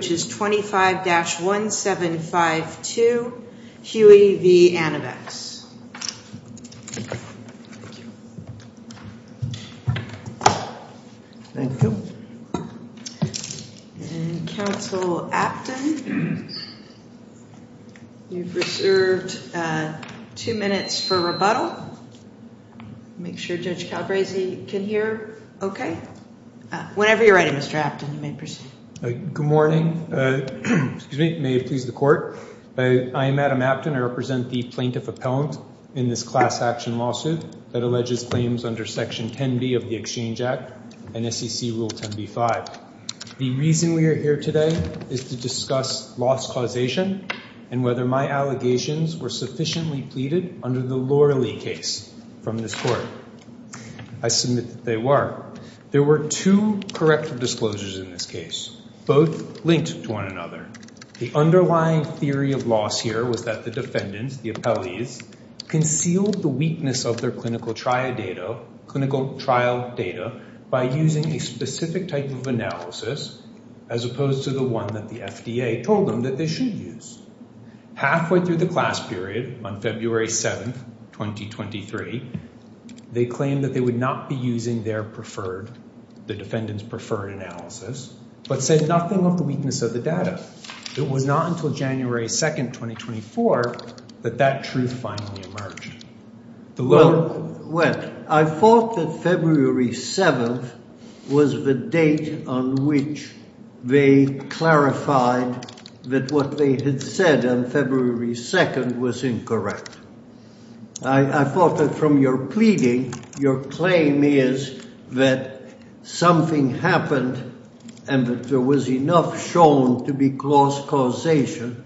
which is 25-1752, Huey v. Anavex. Council Apton, you've reserved two minutes for rebuttal. Make sure Judge Calabresi can hear okay. Whenever you're ready, Mr. Apton, you may proceed. Good morning. May it please the court. I am Adam Apton. I represent the plaintiff appellant in this class action lawsuit that alleges claims under Section 10b of the Exchange Act and SEC Rule 10b-5. The reason we are here today is to discuss loss causation and whether my allegations were sufficiently pleaded under the Loralee case from this court. I submit that they were. There were two corrective disclosures in this case, both linked to one another. The underlying theory of loss here was that the defendants, the appellees, concealed the weakness of their clinical trial data by using a specific type of analysis as opposed to the one that the FDA told them that they should use. Halfway through the class period on February 7th, 2023, they claimed that they would not be using their preferred, the defendant's preferred analysis, but said nothing of the weakness of the data. It was not until January 2nd, 2024, that that truth finally emerged. Well, I thought that February 7th was the date on which they clarified that what they had said on February 2nd was incorrect. I thought that from your pleading, your claim is that something happened and that there was enough shown to be loss causation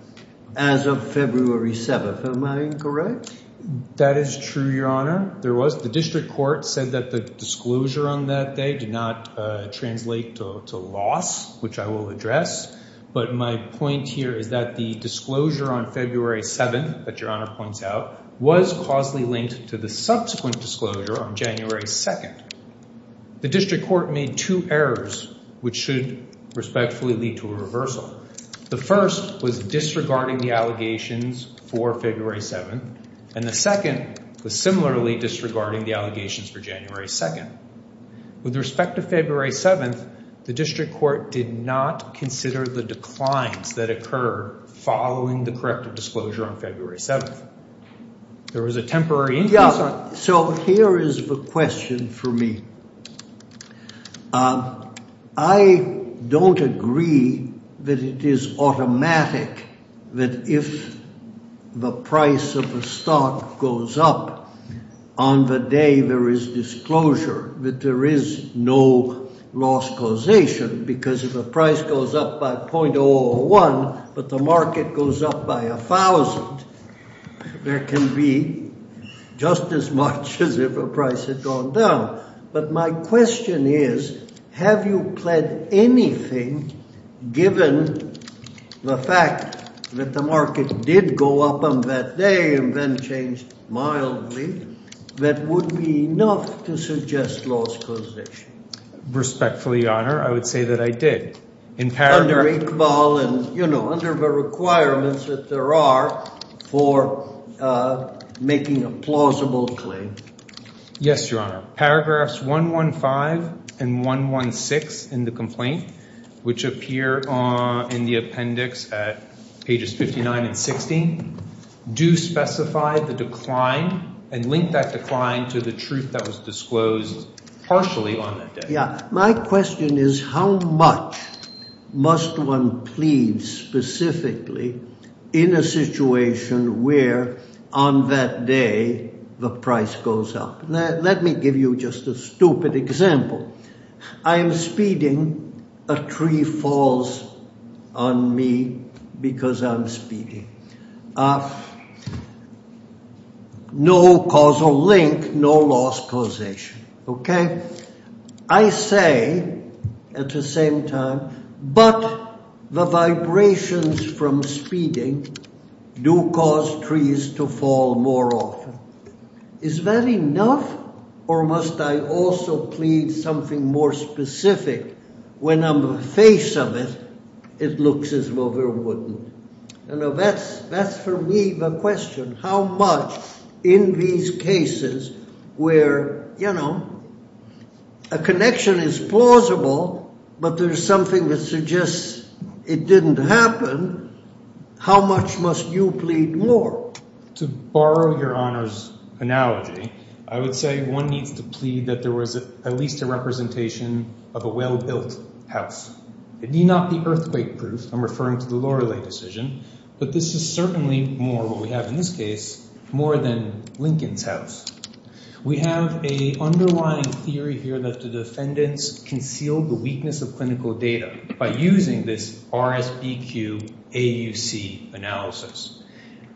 as of February 7th. Am I incorrect? That is true, Your Honor. There was. The district court said that the disclosure on that day did not translate to loss, which I will address. But my point here is that the disclosure on February 7th that Your Honor points out was causally linked to the subsequent disclosure on January 2nd. The district court made two errors which should respectfully lead to a reversal. The first was disregarding the allegations for February 7th, and the second was similarly disregarding the allegations for January 2nd. With respect to February 7th, the district court did not consider the declines that occur following the corrective disclosure on February 7th. There was a temporary increase on. Yeah. So here is the question for me. I don't agree that it is automatic that if the price of a stock goes up on the day there is disclosure that there is no loss causation because if the price goes up by .001, but the market goes up by 1,000, there can be just as much as if a price had gone down. But my question is, have you pled anything given the fact that the market did go up on that day and then changed mildly that would be enough to suggest loss causation? Respectfully, Your Honor, I would say that I did. Under Iqbal and, you know, under the requirements that there are for making a plausible claim. Yes, Your Honor. Paragraphs 115 and 116 in the complaint, which appear in the appendix at pages 59 and 60, do specify the decline and link that decline to the truth that was disclosed partially on that day. My question is, how much must one plead specifically in a situation where on that day the price goes up? Let me give you just a stupid example. I am speeding. A tree falls on me because I'm speeding. No causal link, no loss causation, okay? I say at the same time, but the vibrations from speeding do cause trees to fall more often. Is that enough or must I also plead something more specific? When I'm the face of it, it looks as though there wouldn't. You know, that's for me the question. How much in these cases where, you know, a connection is plausible, but there's something that suggests it didn't happen, how much must you plead more? To borrow Your Honor's analogy, I would say one needs to plead that there was at least a representation of a well-built house. It need not be earthquake-proof. I'm referring to the Lorelei decision, but this is certainly more what we have in this case, more than Lincoln's house. We have a underlying theory here that the defendants concealed the weakness of clinical data by using this RSBQ AUC analysis.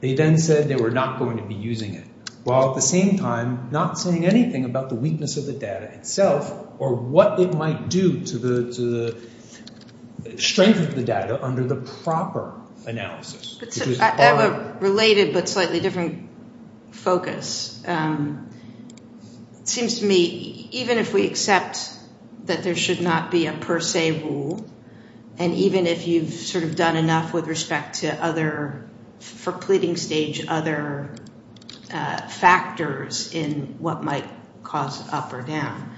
They then said they were not going to be using it, while at the same time, not saying anything about the weakness of the data itself or what it might do to strengthen the data under the proper analysis. I have a related but slightly different focus. It seems to me even if we accept that there should not be a per se rule, and even if you've sort of done enough with respect to other, for pleading stage, other factors in what might cause up or down,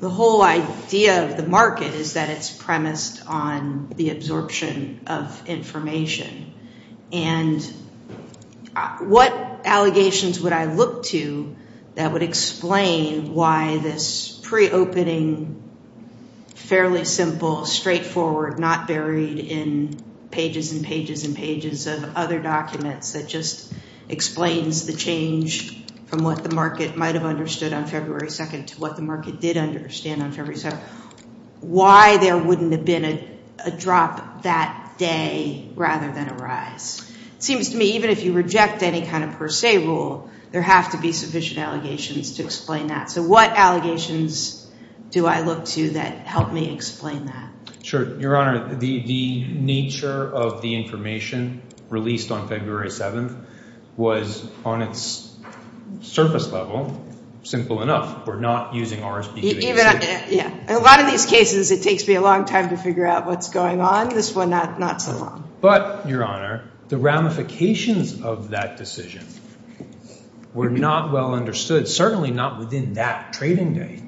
the whole idea of the market is that it's premised on the absorption of information. And what allegations would I look to that would explain why this pre-opening, fairly simple, straightforward, not buried in pages and pages and pages of other documents that just explains the change from what the market might have understood on February 2nd to what the market did understand on February 7th. Why there wouldn't have been a drop that day rather than a rise. Seems to me even if you reject any kind of per se rule, there have to be sufficient allegations to explain that. So what allegations do I look to that help me explain that? Sure. Your Honor, the nature of the information released on February 7th was on its surface level, simple enough. We're not using RRSP. Yeah. A lot of these cases it takes me a long time to figure out what's going on. This one not so long. But, Your Honor, the ramifications of that decision were not well understood, certainly not within that trading day.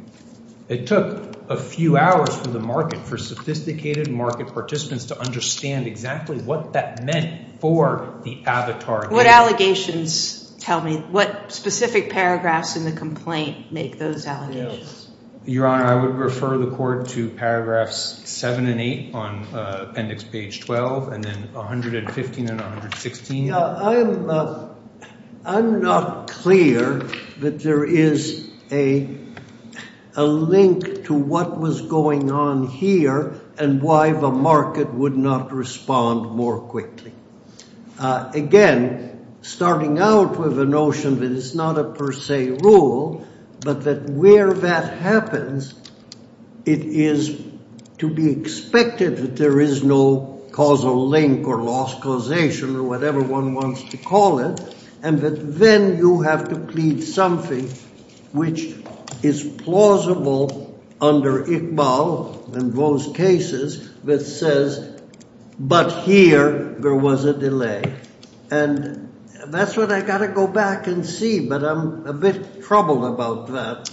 It took a few hours for the market, for sophisticated market participants to understand exactly what that meant for the avatar case. What allegations tell me, what specific paragraphs in the complaint make those allegations? Your Honor, I would refer the Court to paragraphs 7 and 8 on appendix page 12 and then 115 and 116. I'm not clear that there is a link to what was going on here and why the market would not respond more quickly. Again, starting out with a notion that it's not a per se rule, but that where that happens, it is to be expected that there is no causal link or lost causation or whatever one wants to call it, and that then you have to plead something which is plausible under Iqbal in those cases that says, but here there was a delay. And that's what I got to go back and see, but I'm a bit troubled about that.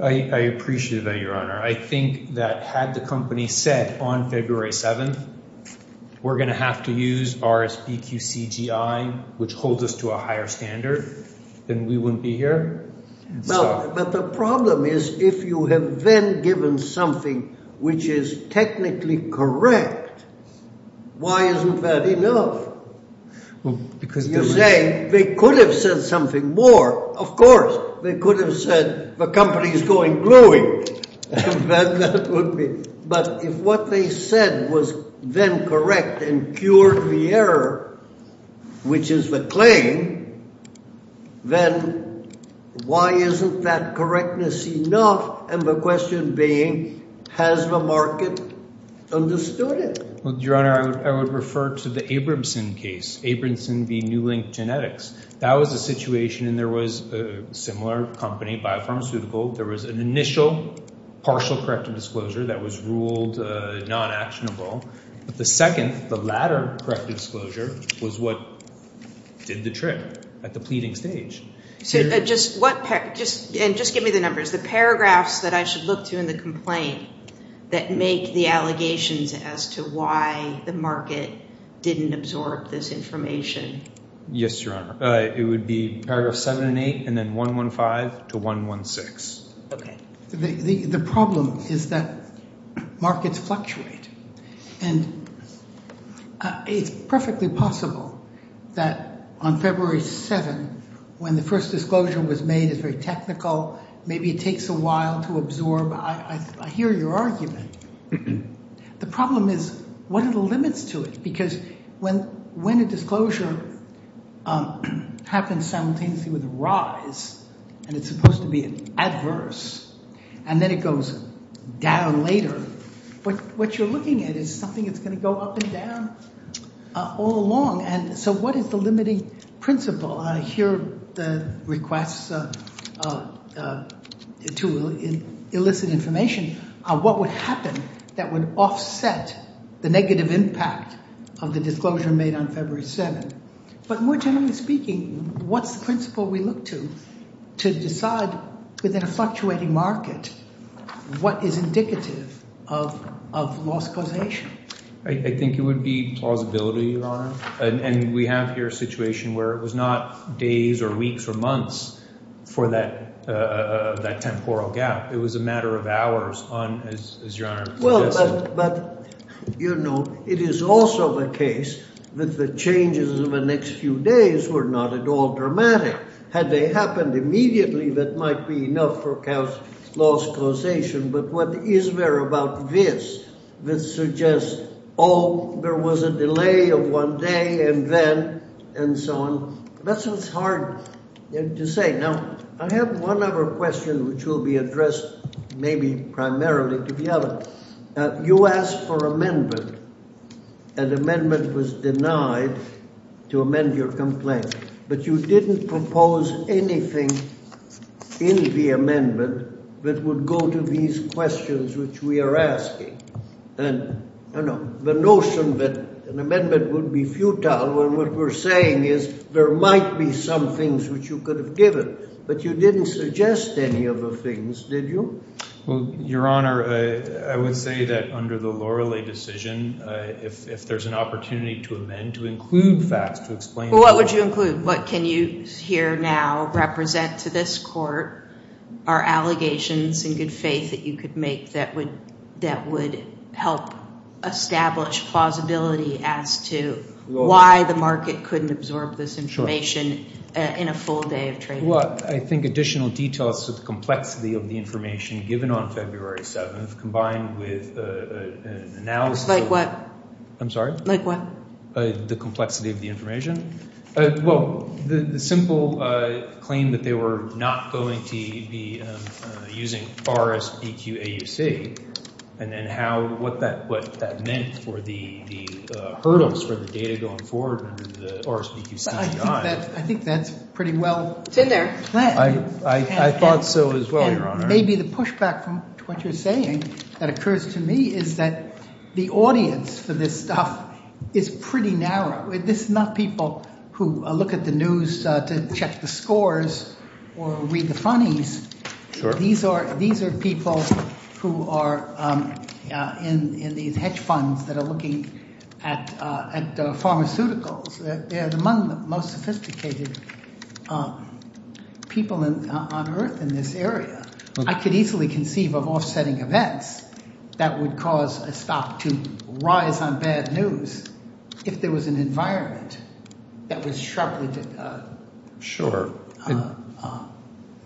I appreciate that, Your Honor. I think that had the company said on February 7th, we're going to have to use RSBQCGI, which holds us to a higher standard, then we wouldn't be here. Well, but the problem is if you have then given something which is technically correct, why isn't that enough? You're saying they could have said something more, of course. They could have said the company is going gluing. But if what they said was then correct and cured the error, which is the claim, then why isn't that correctness enough? And the question being, has the market understood it? Well, Your Honor, I would refer to the Abramson case, Abramson v. Newlink Genetics. That was a situation, and there was a similar company, Biopharmaceutical. There was an initial partial corrective disclosure that was ruled non-actionable. But the second, the latter corrective disclosure, was what did the trick at the pleading stage. So just give me the numbers. The paragraphs that I should look to in the complaint that make the allegations as to why the market didn't absorb this information. Yes, Your Honor. It would be paragraphs 7 and 8, and then 115 to 116. OK. The problem is that markets fluctuate. And it's perfectly possible that on February 7, when the first disclosure was made, it's very technical, maybe it takes a while to absorb. I hear your argument. The problem is, what are the limits to it? Because when a disclosure happens simultaneously with a rise, and it's supposed to be adverse, and then it goes down later, what you're looking at is something that's going to go up and down all along. And so what is the limiting principle? I hear the requests to elicit information on what would happen that would offset the negative impact of the disclosure made on February 7. But more generally speaking, what's the principle we look to to decide, within a fluctuating market, what is indicative of loss causation? I think it would be plausibility, Your Honor. And we have here a situation where it was not days, or weeks, or months for that temporal gap. It was a matter of hours, as Your Honor suggested. But it is also the case that the changes in the next few days were not at all dramatic. Had they happened immediately, that might be enough for loss causation. But what is there about this that suggests, oh, there was a delay of one day, and then, and so on? That's what's hard to say. Now, I have one other question, which will be addressed, maybe, primarily to the other. You asked for amendment, and amendment was denied to amend your complaint. But you didn't propose anything in the amendment that would go to these questions which we are asking. And the notion that an amendment would be futile, when what we're saying is there might be some things which you could have given. But you didn't suggest any of the things, did you? Well, Your Honor, I would say that under the Lorelay decision, if there's an opportunity to amend, to include facts, to explain. Well, what would you include? What can you, here, now, represent to this court? Are allegations, in good faith, that you could make that would help establish plausibility as to why the market couldn't absorb this information in a full day of trading? Well, I think additional details of the complexity of the information given on February 7th, combined with analysis of the complexity of the information. Well, the simple claim that they were not going to be using RSBQAUC, and then what that meant for the hurdles for the data going forward in the RSBQCDI. I think that's pretty well planned. I thought so, as well, Your Honor. Maybe the pushback to what you're saying, that occurs to me, is that the audience for this stuff is pretty narrow. This is not people who look at the news to check the scores or read the funnies. These are people who are in these hedge funds that are looking at pharmaceuticals. They're among the most sophisticated people on Earth in this area. I could easily conceive of offsetting events that would cause a stock to rise on bad news if there was an environment that was sharply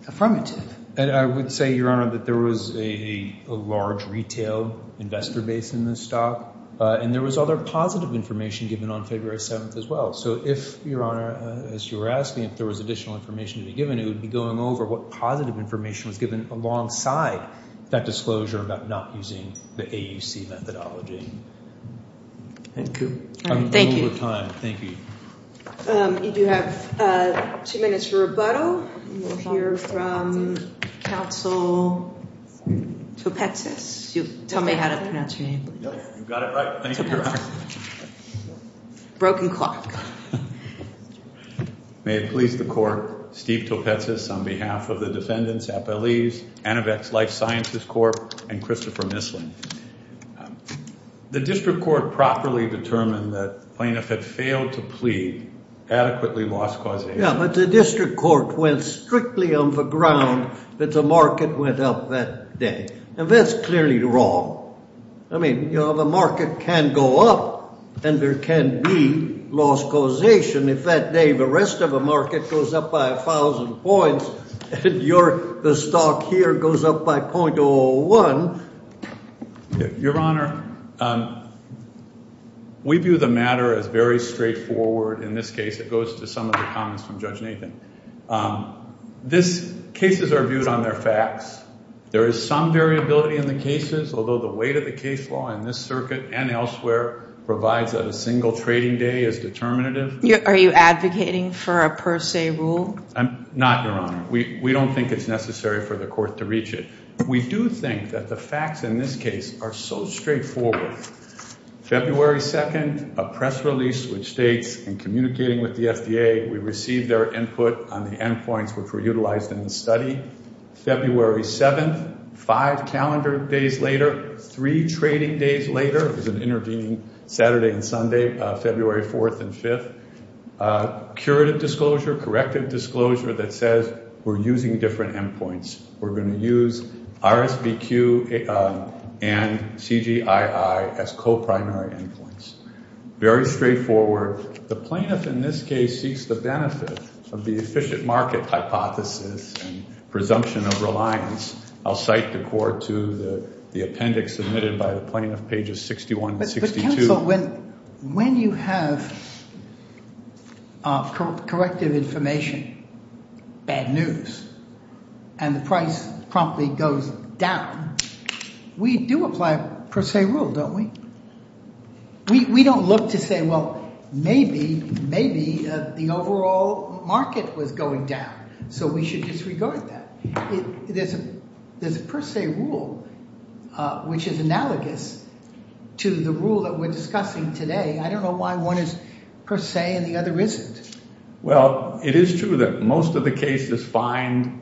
affirmative. And I would say, Your Honor, that there was a large retail investor base in this stock. And there was other positive information given on February 7th, as well. So if, Your Honor, as you were asking, if there was additional information to be given, it would be going over what positive information was given alongside that disclosure about not using the AUC methodology. Thank you. Thank you. I'm over time. Thank you. You do have two minutes for rebuttal. We'll hear from counsel Topetsis. You tell me how to pronounce your name, please. You've got it right. Thank you, Your Honor. Broken clock. May it please the court, Steve Topetsis on behalf of the defendants, Applees, Anovex Life Sciences Corp, and Christopher Missling. The district court properly determined that the plaintiff had failed to plead adequately lost cause of injury. Yeah, but the district court went strictly on the ground that the market went up that day. And that's clearly wrong. I mean, the market can go up, and there can be lost causation if that day the rest of the market goes up by 1,000 points, and the stock here goes up by 0.01. Your Honor, we view the matter as very straightforward. In this case, it goes to some of the comments from Judge Nathan. These cases are viewed on their facts. There is some variability in the cases, although the weight of the case law in this circuit and elsewhere provides that a single trading day is determinative. Are you advocating for a per se rule? Not, Your Honor. We don't think it's necessary for the court to reach it. We do think that the facts in this case are so straightforward. February 2nd, a press release which states, in communicating with the FDA, we received their input on the endpoints which were utilized in the study. February 7th, five calendar days later, three trading days later, it was an intervening Saturday and Sunday, February 4th and 5th. Curative disclosure, corrective disclosure that says we're using different endpoints. We're going to use RSVQ and CGII as co-primary endpoints. Very straightforward. The plaintiff in this case seeks the benefit of the efficient market hypothesis and presumption of reliance. I'll cite the court to the appendix submitted by the plaintiff, pages 61 and 62. But counsel, when you have corrective information, bad news, and the price promptly goes down, we do apply a per se rule, don't we? We don't look to say, well, maybe the overall market was going down, so we should disregard that. There's a per se rule which is analogous to the rule that we're discussing today. I don't know why one is per se and the other isn't. Well, it is true that most of the cases find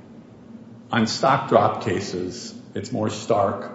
on stock drop cases, it's more stark.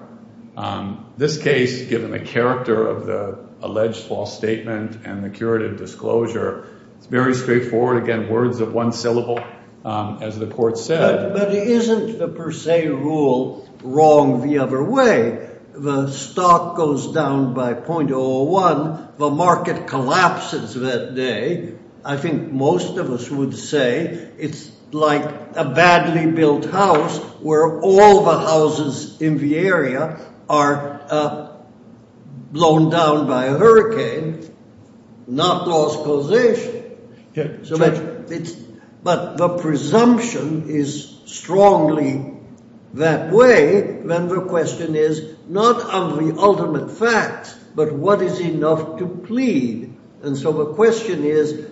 This case, given the character of the alleged false statement and the curative disclosure, it's very straightforward. Again, words of one syllable, as the court said. But isn't the per se rule wrong the other way? The stock goes down by 0.01. The market collapses that day. I think most of us would say it's like a badly built house where all the houses in the area are blown down by a hurricane, not lost causation. But the presumption is strongly that way. Then the question is not of the ultimate facts, but what is enough to plead? And so the question is,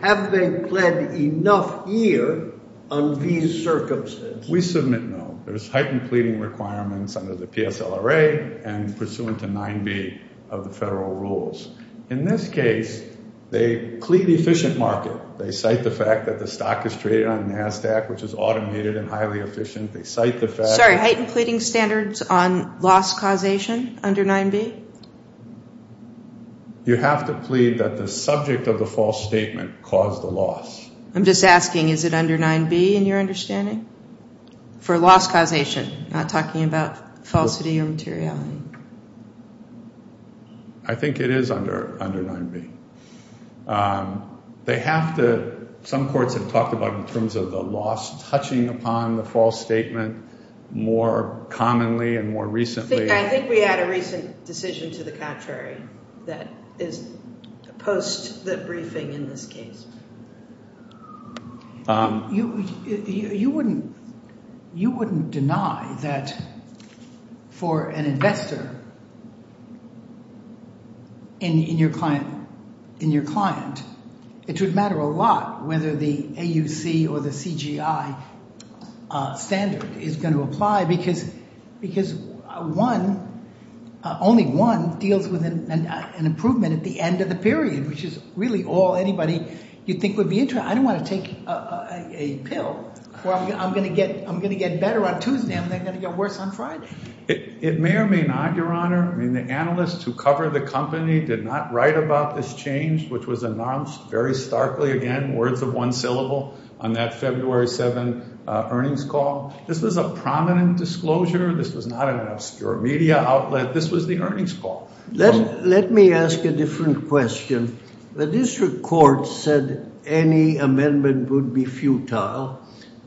have they led enough here on these circumstances? We submit no. There's heightened pleading requirements under the PSLRA and pursuant to 9b of the federal rules. In this case, they plead the efficient market. They cite the fact that the stock is traded on NASDAQ, which is automated and highly efficient. They cite the fact that- Sorry, heightened pleading standards on loss causation under 9b? You have to plead that the subject of the false statement caused the loss. I'm just asking, is it under 9b in your understanding for loss causation, not talking about falsity or materiality? I think it is under 9b. They have to, some courts have talked about in terms of the loss touching upon the false statement more commonly and more recently. I think we had a recent decision to the contrary that is post the briefing in this case. You wouldn't deny that for an investor in your client, it would matter a lot whether the AUC or the CGI standard is going to apply because only one deals with an improvement at the end of the period, which is really all anybody you'd think would be interested. I don't want to take a pill where I'm going to get better on Tuesday and they're going to get worse on Friday. It may or may not, Your Honor. The analysts who cover the company did not write about this change, which was announced very starkly, again, words of one syllable on that February 7 earnings call. This was a prominent disclosure. This was not an obscure media outlet. This was the earnings call. Let me ask a different question. The district court said any amendment would be futile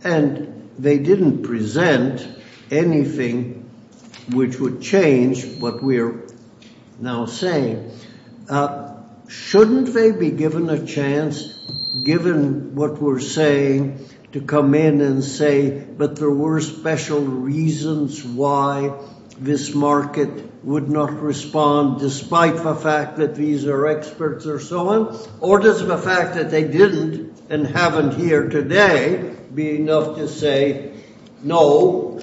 and they didn't present anything which would change what we are now saying. Shouldn't they be given a chance, given what we're saying, to come in and say, but there were special reasons why this market would not respond, despite the fact that these are experts or so on? Or does the fact that they didn't and haven't here today be enough to say, no,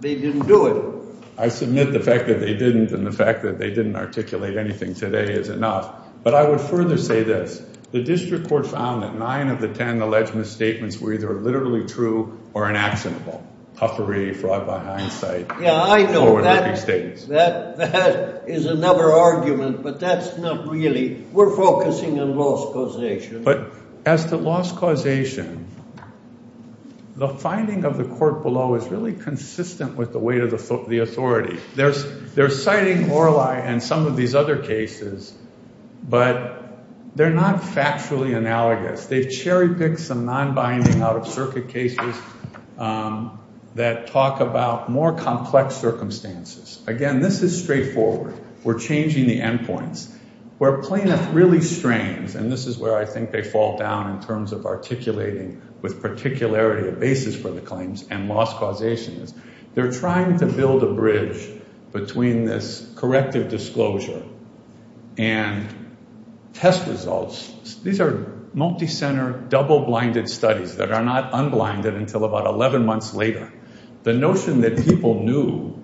they didn't do it? I submit the fact that they didn't and the fact that they didn't articulate anything today is enough. But I would further say this. The district court found that nine of the 10 alleged misstatements were either literally true or inactionable. Huffery, fraud by hindsight, forward looking statements. That is another argument, but that's not really. We're focusing on loss causation. But as to loss causation, the finding of the court below is really consistent with the weight of the authority. They're citing Morlai and some of these other cases, but they're not factually analogous. They've cherry picked some non-binding out of circuit cases that talk about more complex circumstances. Again, this is straightforward. We're changing the endpoints. Where plaintiff really strains, and this is where I think they fall down in terms of articulating with particularity a basis for the claims and loss causation is, they're trying to build a bridge between this corrective disclosure and test results. These are multi-center, double-blinded studies that are not unblinded until about 11 months later. The notion that people knew,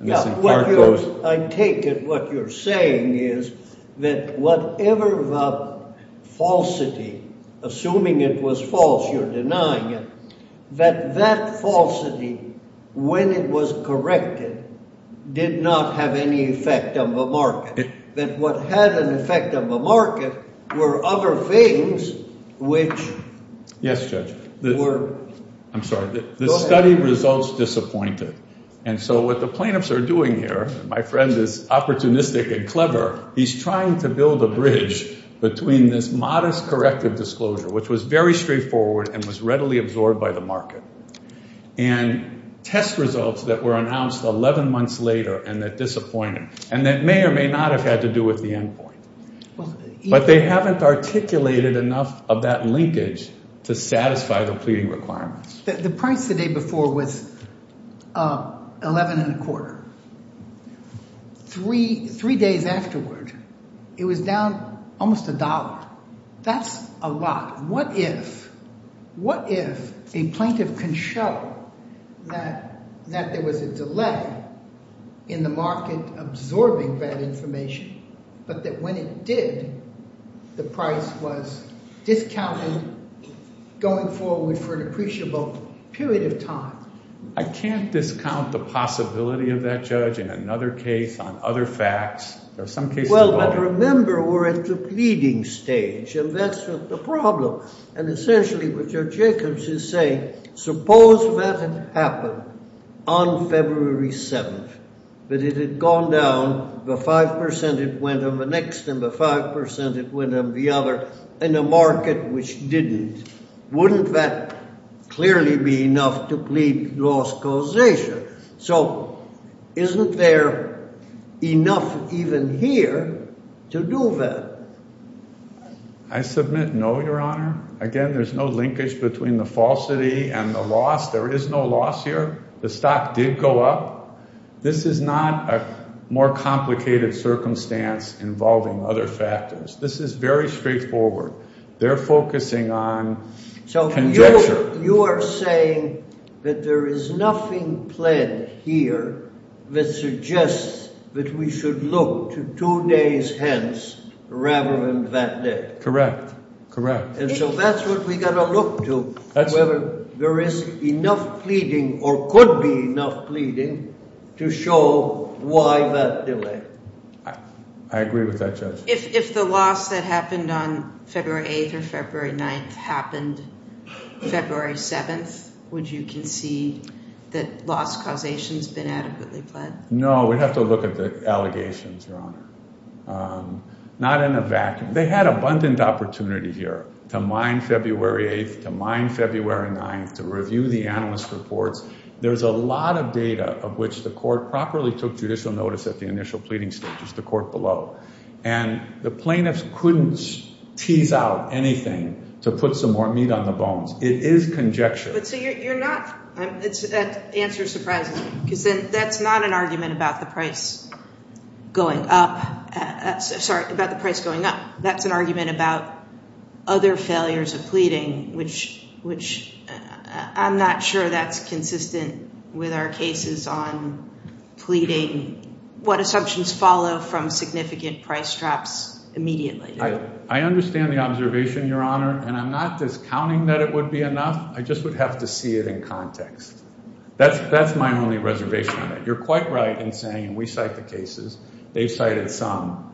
and this in part goes- I take it what you're saying is that whatever the falsity, assuming it was false, you're denying it, that that falsity, when it was corrected, did not have any effect on the market. That what had an effect on the market were other things which were- Yes, Judge. I'm sorry. The study results disappointed. And so what the plaintiffs are doing here, my friend is opportunistic and clever, he's trying to build a bridge between this modest corrective disclosure, which was very straightforward and was readily absorbed by the market, and test results that were announced 11 months later and that disappointed. And that may or may not have had to do with the endpoint. But they haven't articulated enough of that linkage to satisfy the pleading requirements. The price the day before was 11 and a quarter. Three days afterward, it was down almost a dollar. That's a lot. What if a plaintiff can show that there was a delay in the market absorbing that information, but that when it did, the price was discounted, going forward for an appreciable period of time? I can't discount the possibility of that, Judge, in another case, on other facts, or some cases- Well, but remember, we're at the pleading stage, and that's the problem. And essentially, what Judge Jacobs is saying, suppose that had happened on February 7th, that it had gone down, the 5% it went on the next, and the 5% it went on the other, and the market, which didn't. Wouldn't that clearly be enough to plead loss causation? So isn't there enough even here to do that? I submit no, Your Honor. Again, there's no linkage between the falsity and the loss. There is no loss here. The stock did go up. This is not a more complicated circumstance involving other factors. This is very straightforward. They're focusing on conjecture. You are saying that there is nothing pled here that suggests that we should look to two days hence, rather than that day? Correct, correct. And so that's what we gotta look to, whether there is enough pleading, or could be enough pleading, to show why that delay. I agree with that, Judge. If the loss that happened on February 8th or February 9th happened February 7th, would you concede that loss causation's been adequately pled? No, we'd have to look at the allegations, Your Honor. Not in a vacuum. They had abundant opportunity here to mine February 8th, to mine February 9th, to review the analyst reports. There's a lot of data of which the court properly took judicial notice at the initial pleading stages, the court below. And the plaintiffs couldn't tease out anything to put some more meat on the bones. It is conjecture. But so you're not, it answers surprisingly, because then that's not an argument about the price going up, sorry, about the price going up. That's an argument about other failures of pleading, which I'm not sure that's consistent with our cases on pleading. What assumptions follow from significant price drops immediately? I understand the observation, Your Honor, and I'm not discounting that it would be enough. I just would have to see it in context. That's my only reservation on it. You're quite right in saying, and we cite the cases, they've cited some.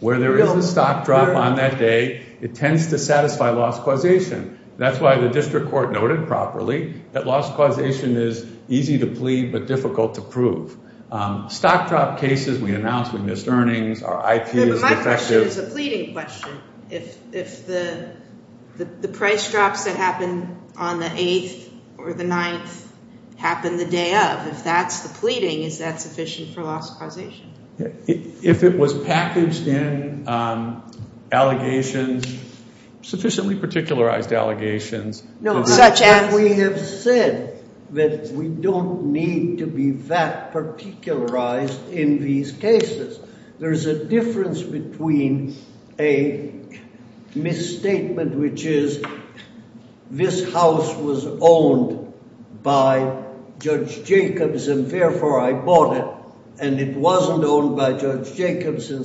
Where there is a stock drop on that day, it tends to satisfy loss causation. That's why the district court noted properly that loss causation is easy to plead, but difficult to prove. Stock drop cases, we announce we missed earnings, our IP is defective. Yeah, but my question is a pleading question. If the price drops that happen on the 8th or the 9th happen the day of, if that's the pleading, is that sufficient for loss causation? If it was packaged in allegations, sufficiently particularized allegations. No, we have said that we don't need to be that particularized in these cases. There's a difference between a misstatement, which is this house was owned by Judge Jacobs, and therefore I bought it, and it wasn't owned by Judge Jacobs, and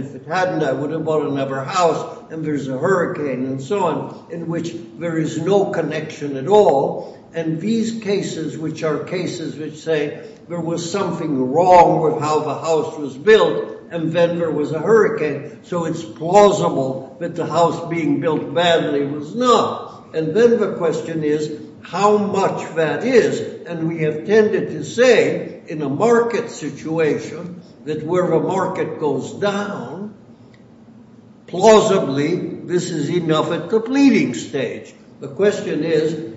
if it hadn't, I would have bought another house, and there's a hurricane and so on, in which there is no connection at all. And these cases, which are cases which say there was something wrong with how the house was built, and then there was a hurricane, so it's plausible that the house being built badly was not. And then the question is how much that is, and we have tended to say in a market situation that where the market goes down, plausibly this is enough at the pleading stage. The question is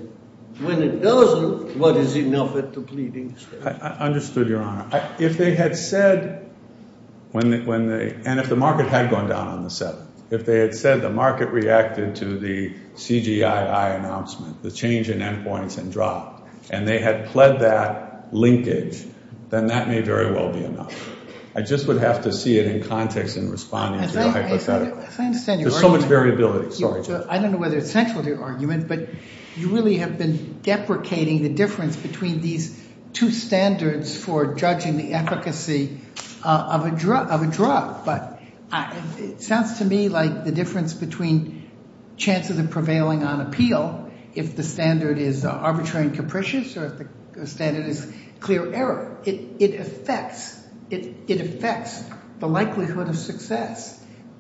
when it doesn't, what is enough at the pleading stage? I understood, Your Honor. If they had said, and if the market had gone down on the 7th, if they had said the market reacted to the CGII announcement, the change in endpoints, and drop, and they had pled that linkage, then that may very well be enough. I just would have to see it in context in responding to your hypothetical. As I understand, Your Honor. There's so much variability, sorry, Judge. I don't know whether it's central to your argument, but you really have been deprecating the difference between these two standards for judging the efficacy of a drop, but it sounds to me like the difference between chances of prevailing on appeal, if the standard is arbitrary and capricious, or if the standard is clear error. It affects the likelihood of success.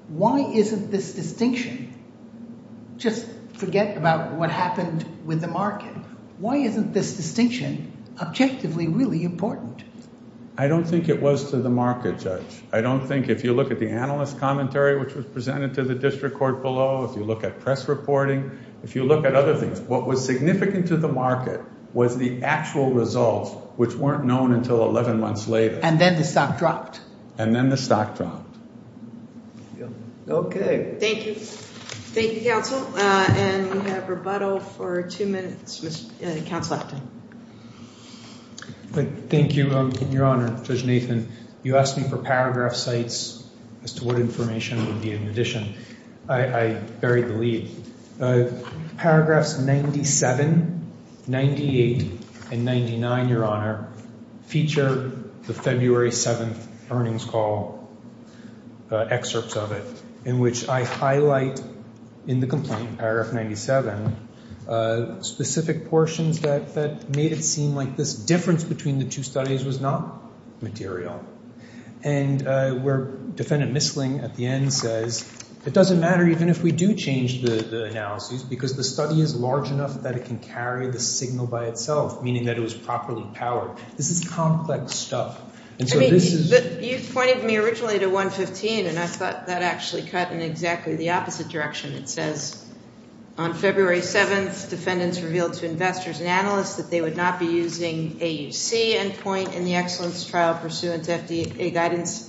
Why isn't this distinction, just forget about what happened with the market, why isn't this distinction objectively really important? I don't think it was to the market, Judge. I don't think, if you look at the analyst commentary which was presented to the district court below, if you look at press reporting, if you look at other things, what was significant to the market was the actual results which weren't known until 11 months later. And then the stock dropped. And then the stock dropped. Okay. Thank you. Thank you, counsel. And we have rebuttal for two minutes. Counsel Afton. Thank you, Your Honor, Judge Nathan. You asked me for paragraph sites as to what information would be in addition. I buried the lead. Paragraphs 97, 98, and 99, Your Honor, feature the February 7th earnings call excerpts of it in which I highlight in the complaint, paragraph 97, specific portions that made it seem like this difference between the two studies was not material. And where Defendant Misling at the end says, it doesn't matter even if we do change the analysis because the study is large enough that it can carry the signal by itself, meaning that it was properly powered. This is complex stuff. And so this is- I mean, you pointed me originally to 115 and I thought that actually cut in exactly the opposite direction. It says, on February 7th, Defendants revealed to investors and analysts that they would not be using AUC endpoint in the excellence trial pursuant to FDA guidance.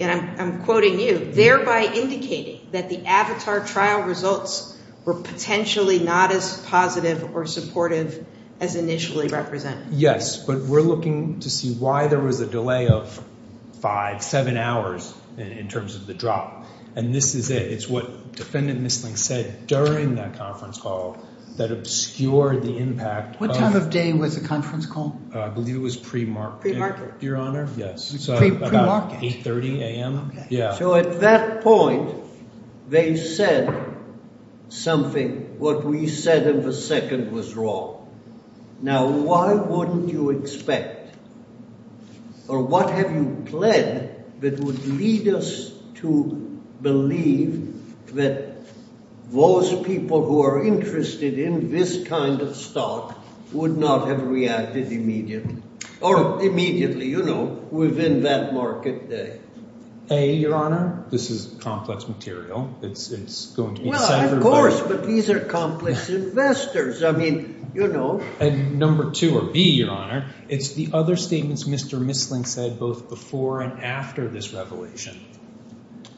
And I'm quoting you. Thereby indicating that the avatar trial results were potentially not as positive or supportive as initially represented. Yes, but we're looking to see why there was a delay of five, seven hours in terms of the drop. And this is it. It's what Defendant Misling said during that conference call that obscured the impact. What time of day was the conference call? I believe it was pre-market. Your Honor, yes. Pre-market. About 8.30 a.m. So at that point, they said something. What we said in the second was wrong. Now, why wouldn't you expect? Or what have you pled that would lead us to believe that those people who are interested in this kind of stock would not have reacted immediately. Or immediately, you know, within that market day. A, Your Honor, this is complex material. It's going to be deciphered. Well, of course, but these are complex investors. I mean, you know. And number two, or B, Your Honor, it's the other statements Mr. Misling said both before and after this revelation,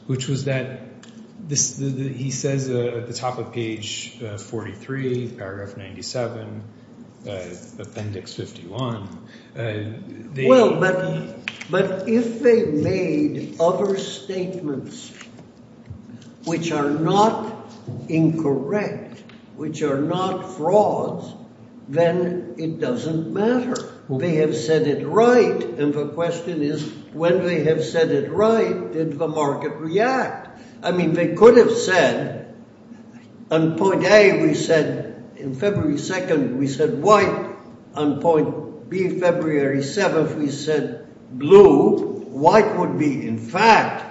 which was that he says at the top of page 43, paragraph 97, appendix 51. Well, but if they made other statements which are not incorrect, which are not frauds, then it doesn't matter. They have said it right. And the question is, when they have said it right, did the market react? I mean, they could have said on point A, we said in February 2nd, we said white. On point B, February 7th, we said blue. White would be, in fact,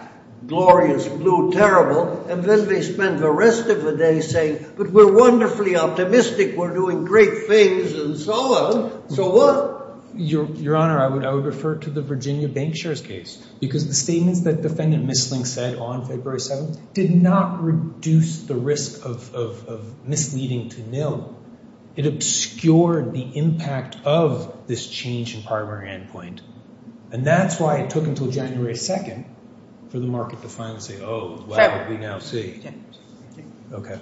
glorious blue, terrible. And then they spent the rest of the day saying, but we're wonderfully optimistic. We're doing great things and so on. So what? Your Honor, I would refer to the Virginia Bank shares case because the statements that Defendant Misling said on February 7th did not reduce the risk of misleading to nil. It obscured the impact of this change in primary endpoint. And that's why it took until January 2nd for the market to finally say, oh, well, what do we now see? Okay.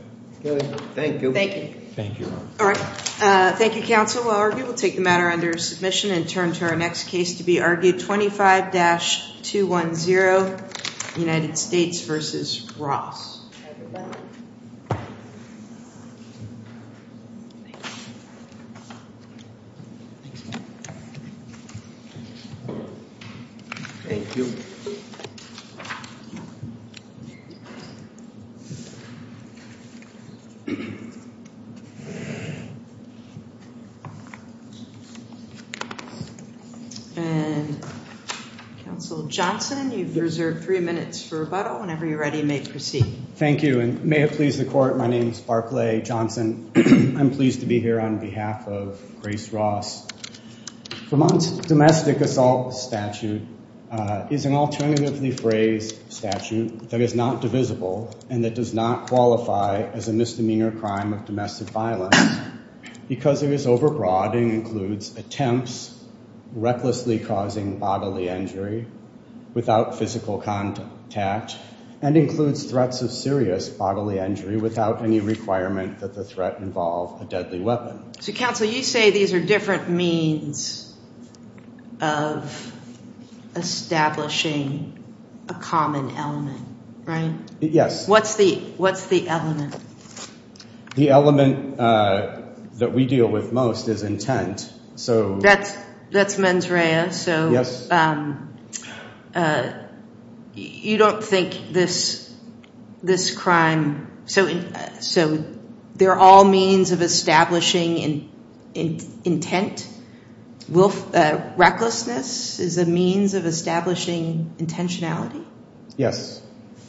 Thank you. Thank you. All right. Thank you, counsel. We'll argue, we'll take the matter under submission and turn to our next case to be argued, 25-210, United States versus Ross. Thank you. Thanks, Mark. Thank you. And counsel Johnson, you've reserved three minutes for rebuttal. Whenever you're ready, you may proceed. Thank you. And may it please the court, my name's Barclay Johnson. I'm pleased to be here on behalf of Grace Ross. Vermont's domestic assault statute is an alternatively phrased statute that is not divisible and that does not qualify as a misdemeanor crime of domestic violence because it is overbroad and includes attempts recklessly causing bodily injury without physical contact and includes threats of serious bodily injury without any requirement that the threat involve a deadly weapon. So counsel, you say these are different means of establishing a common element, right? Yes. What's the element? The element that we deal with most is intent. So that's mens rea. So you don't think this crime, so they're all means of establishing intent? Recklessness is a means of establishing intentionality? Yes,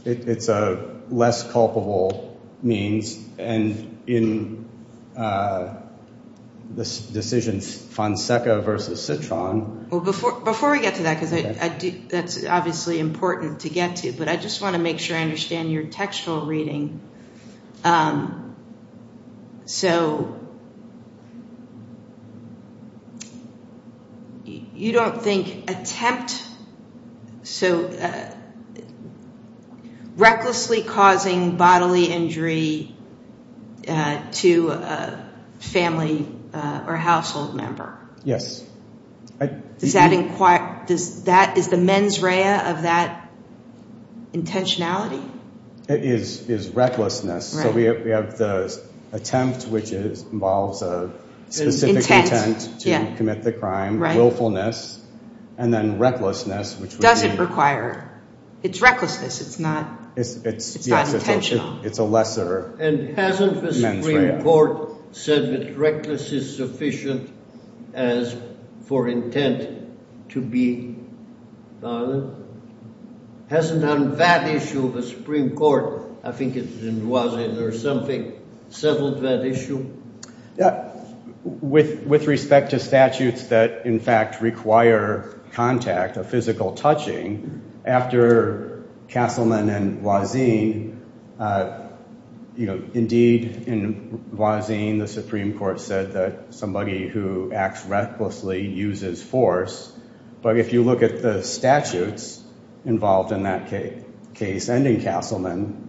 it's a less culpable means and in this decision, Fonseca versus Citron. Well, before we get to that, because that's obviously important to get to, but I just want to make sure I understand in your textual reading. So you don't think attempt, so recklessly causing bodily injury to a family or household member? Yes. Does that, is the mens rea of that intentionality? It is recklessness. So we have the attempt, which involves a specific intent to commit the crime, willfulness, and then recklessness, which would be- Doesn't require, it's recklessness. It's not intentional. It's a lesser mens rea. And hasn't the Supreme Court said that reckless is sufficient as for intent to be violent? Hasn't that issue of the Supreme Court, I think it was in Voisin or something, settled that issue? Yeah, with respect to statutes that in fact require contact, a physical touching, after Castleman and Voisin, indeed in Voisin, the Supreme Court said that somebody who acts recklessly uses force, but if you look at the statutes involved in that case ending Castleman,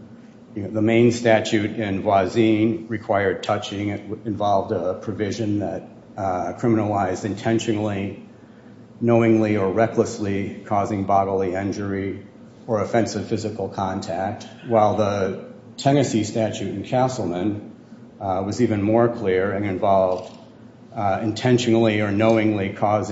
the main statute in Voisin required touching. It involved a provision that criminalized intentionally, knowingly, or recklessly causing bodily injury or offensive physical contact, while the Tennessee statute in Castleman was even more clear and involved intentionally or knowingly causing.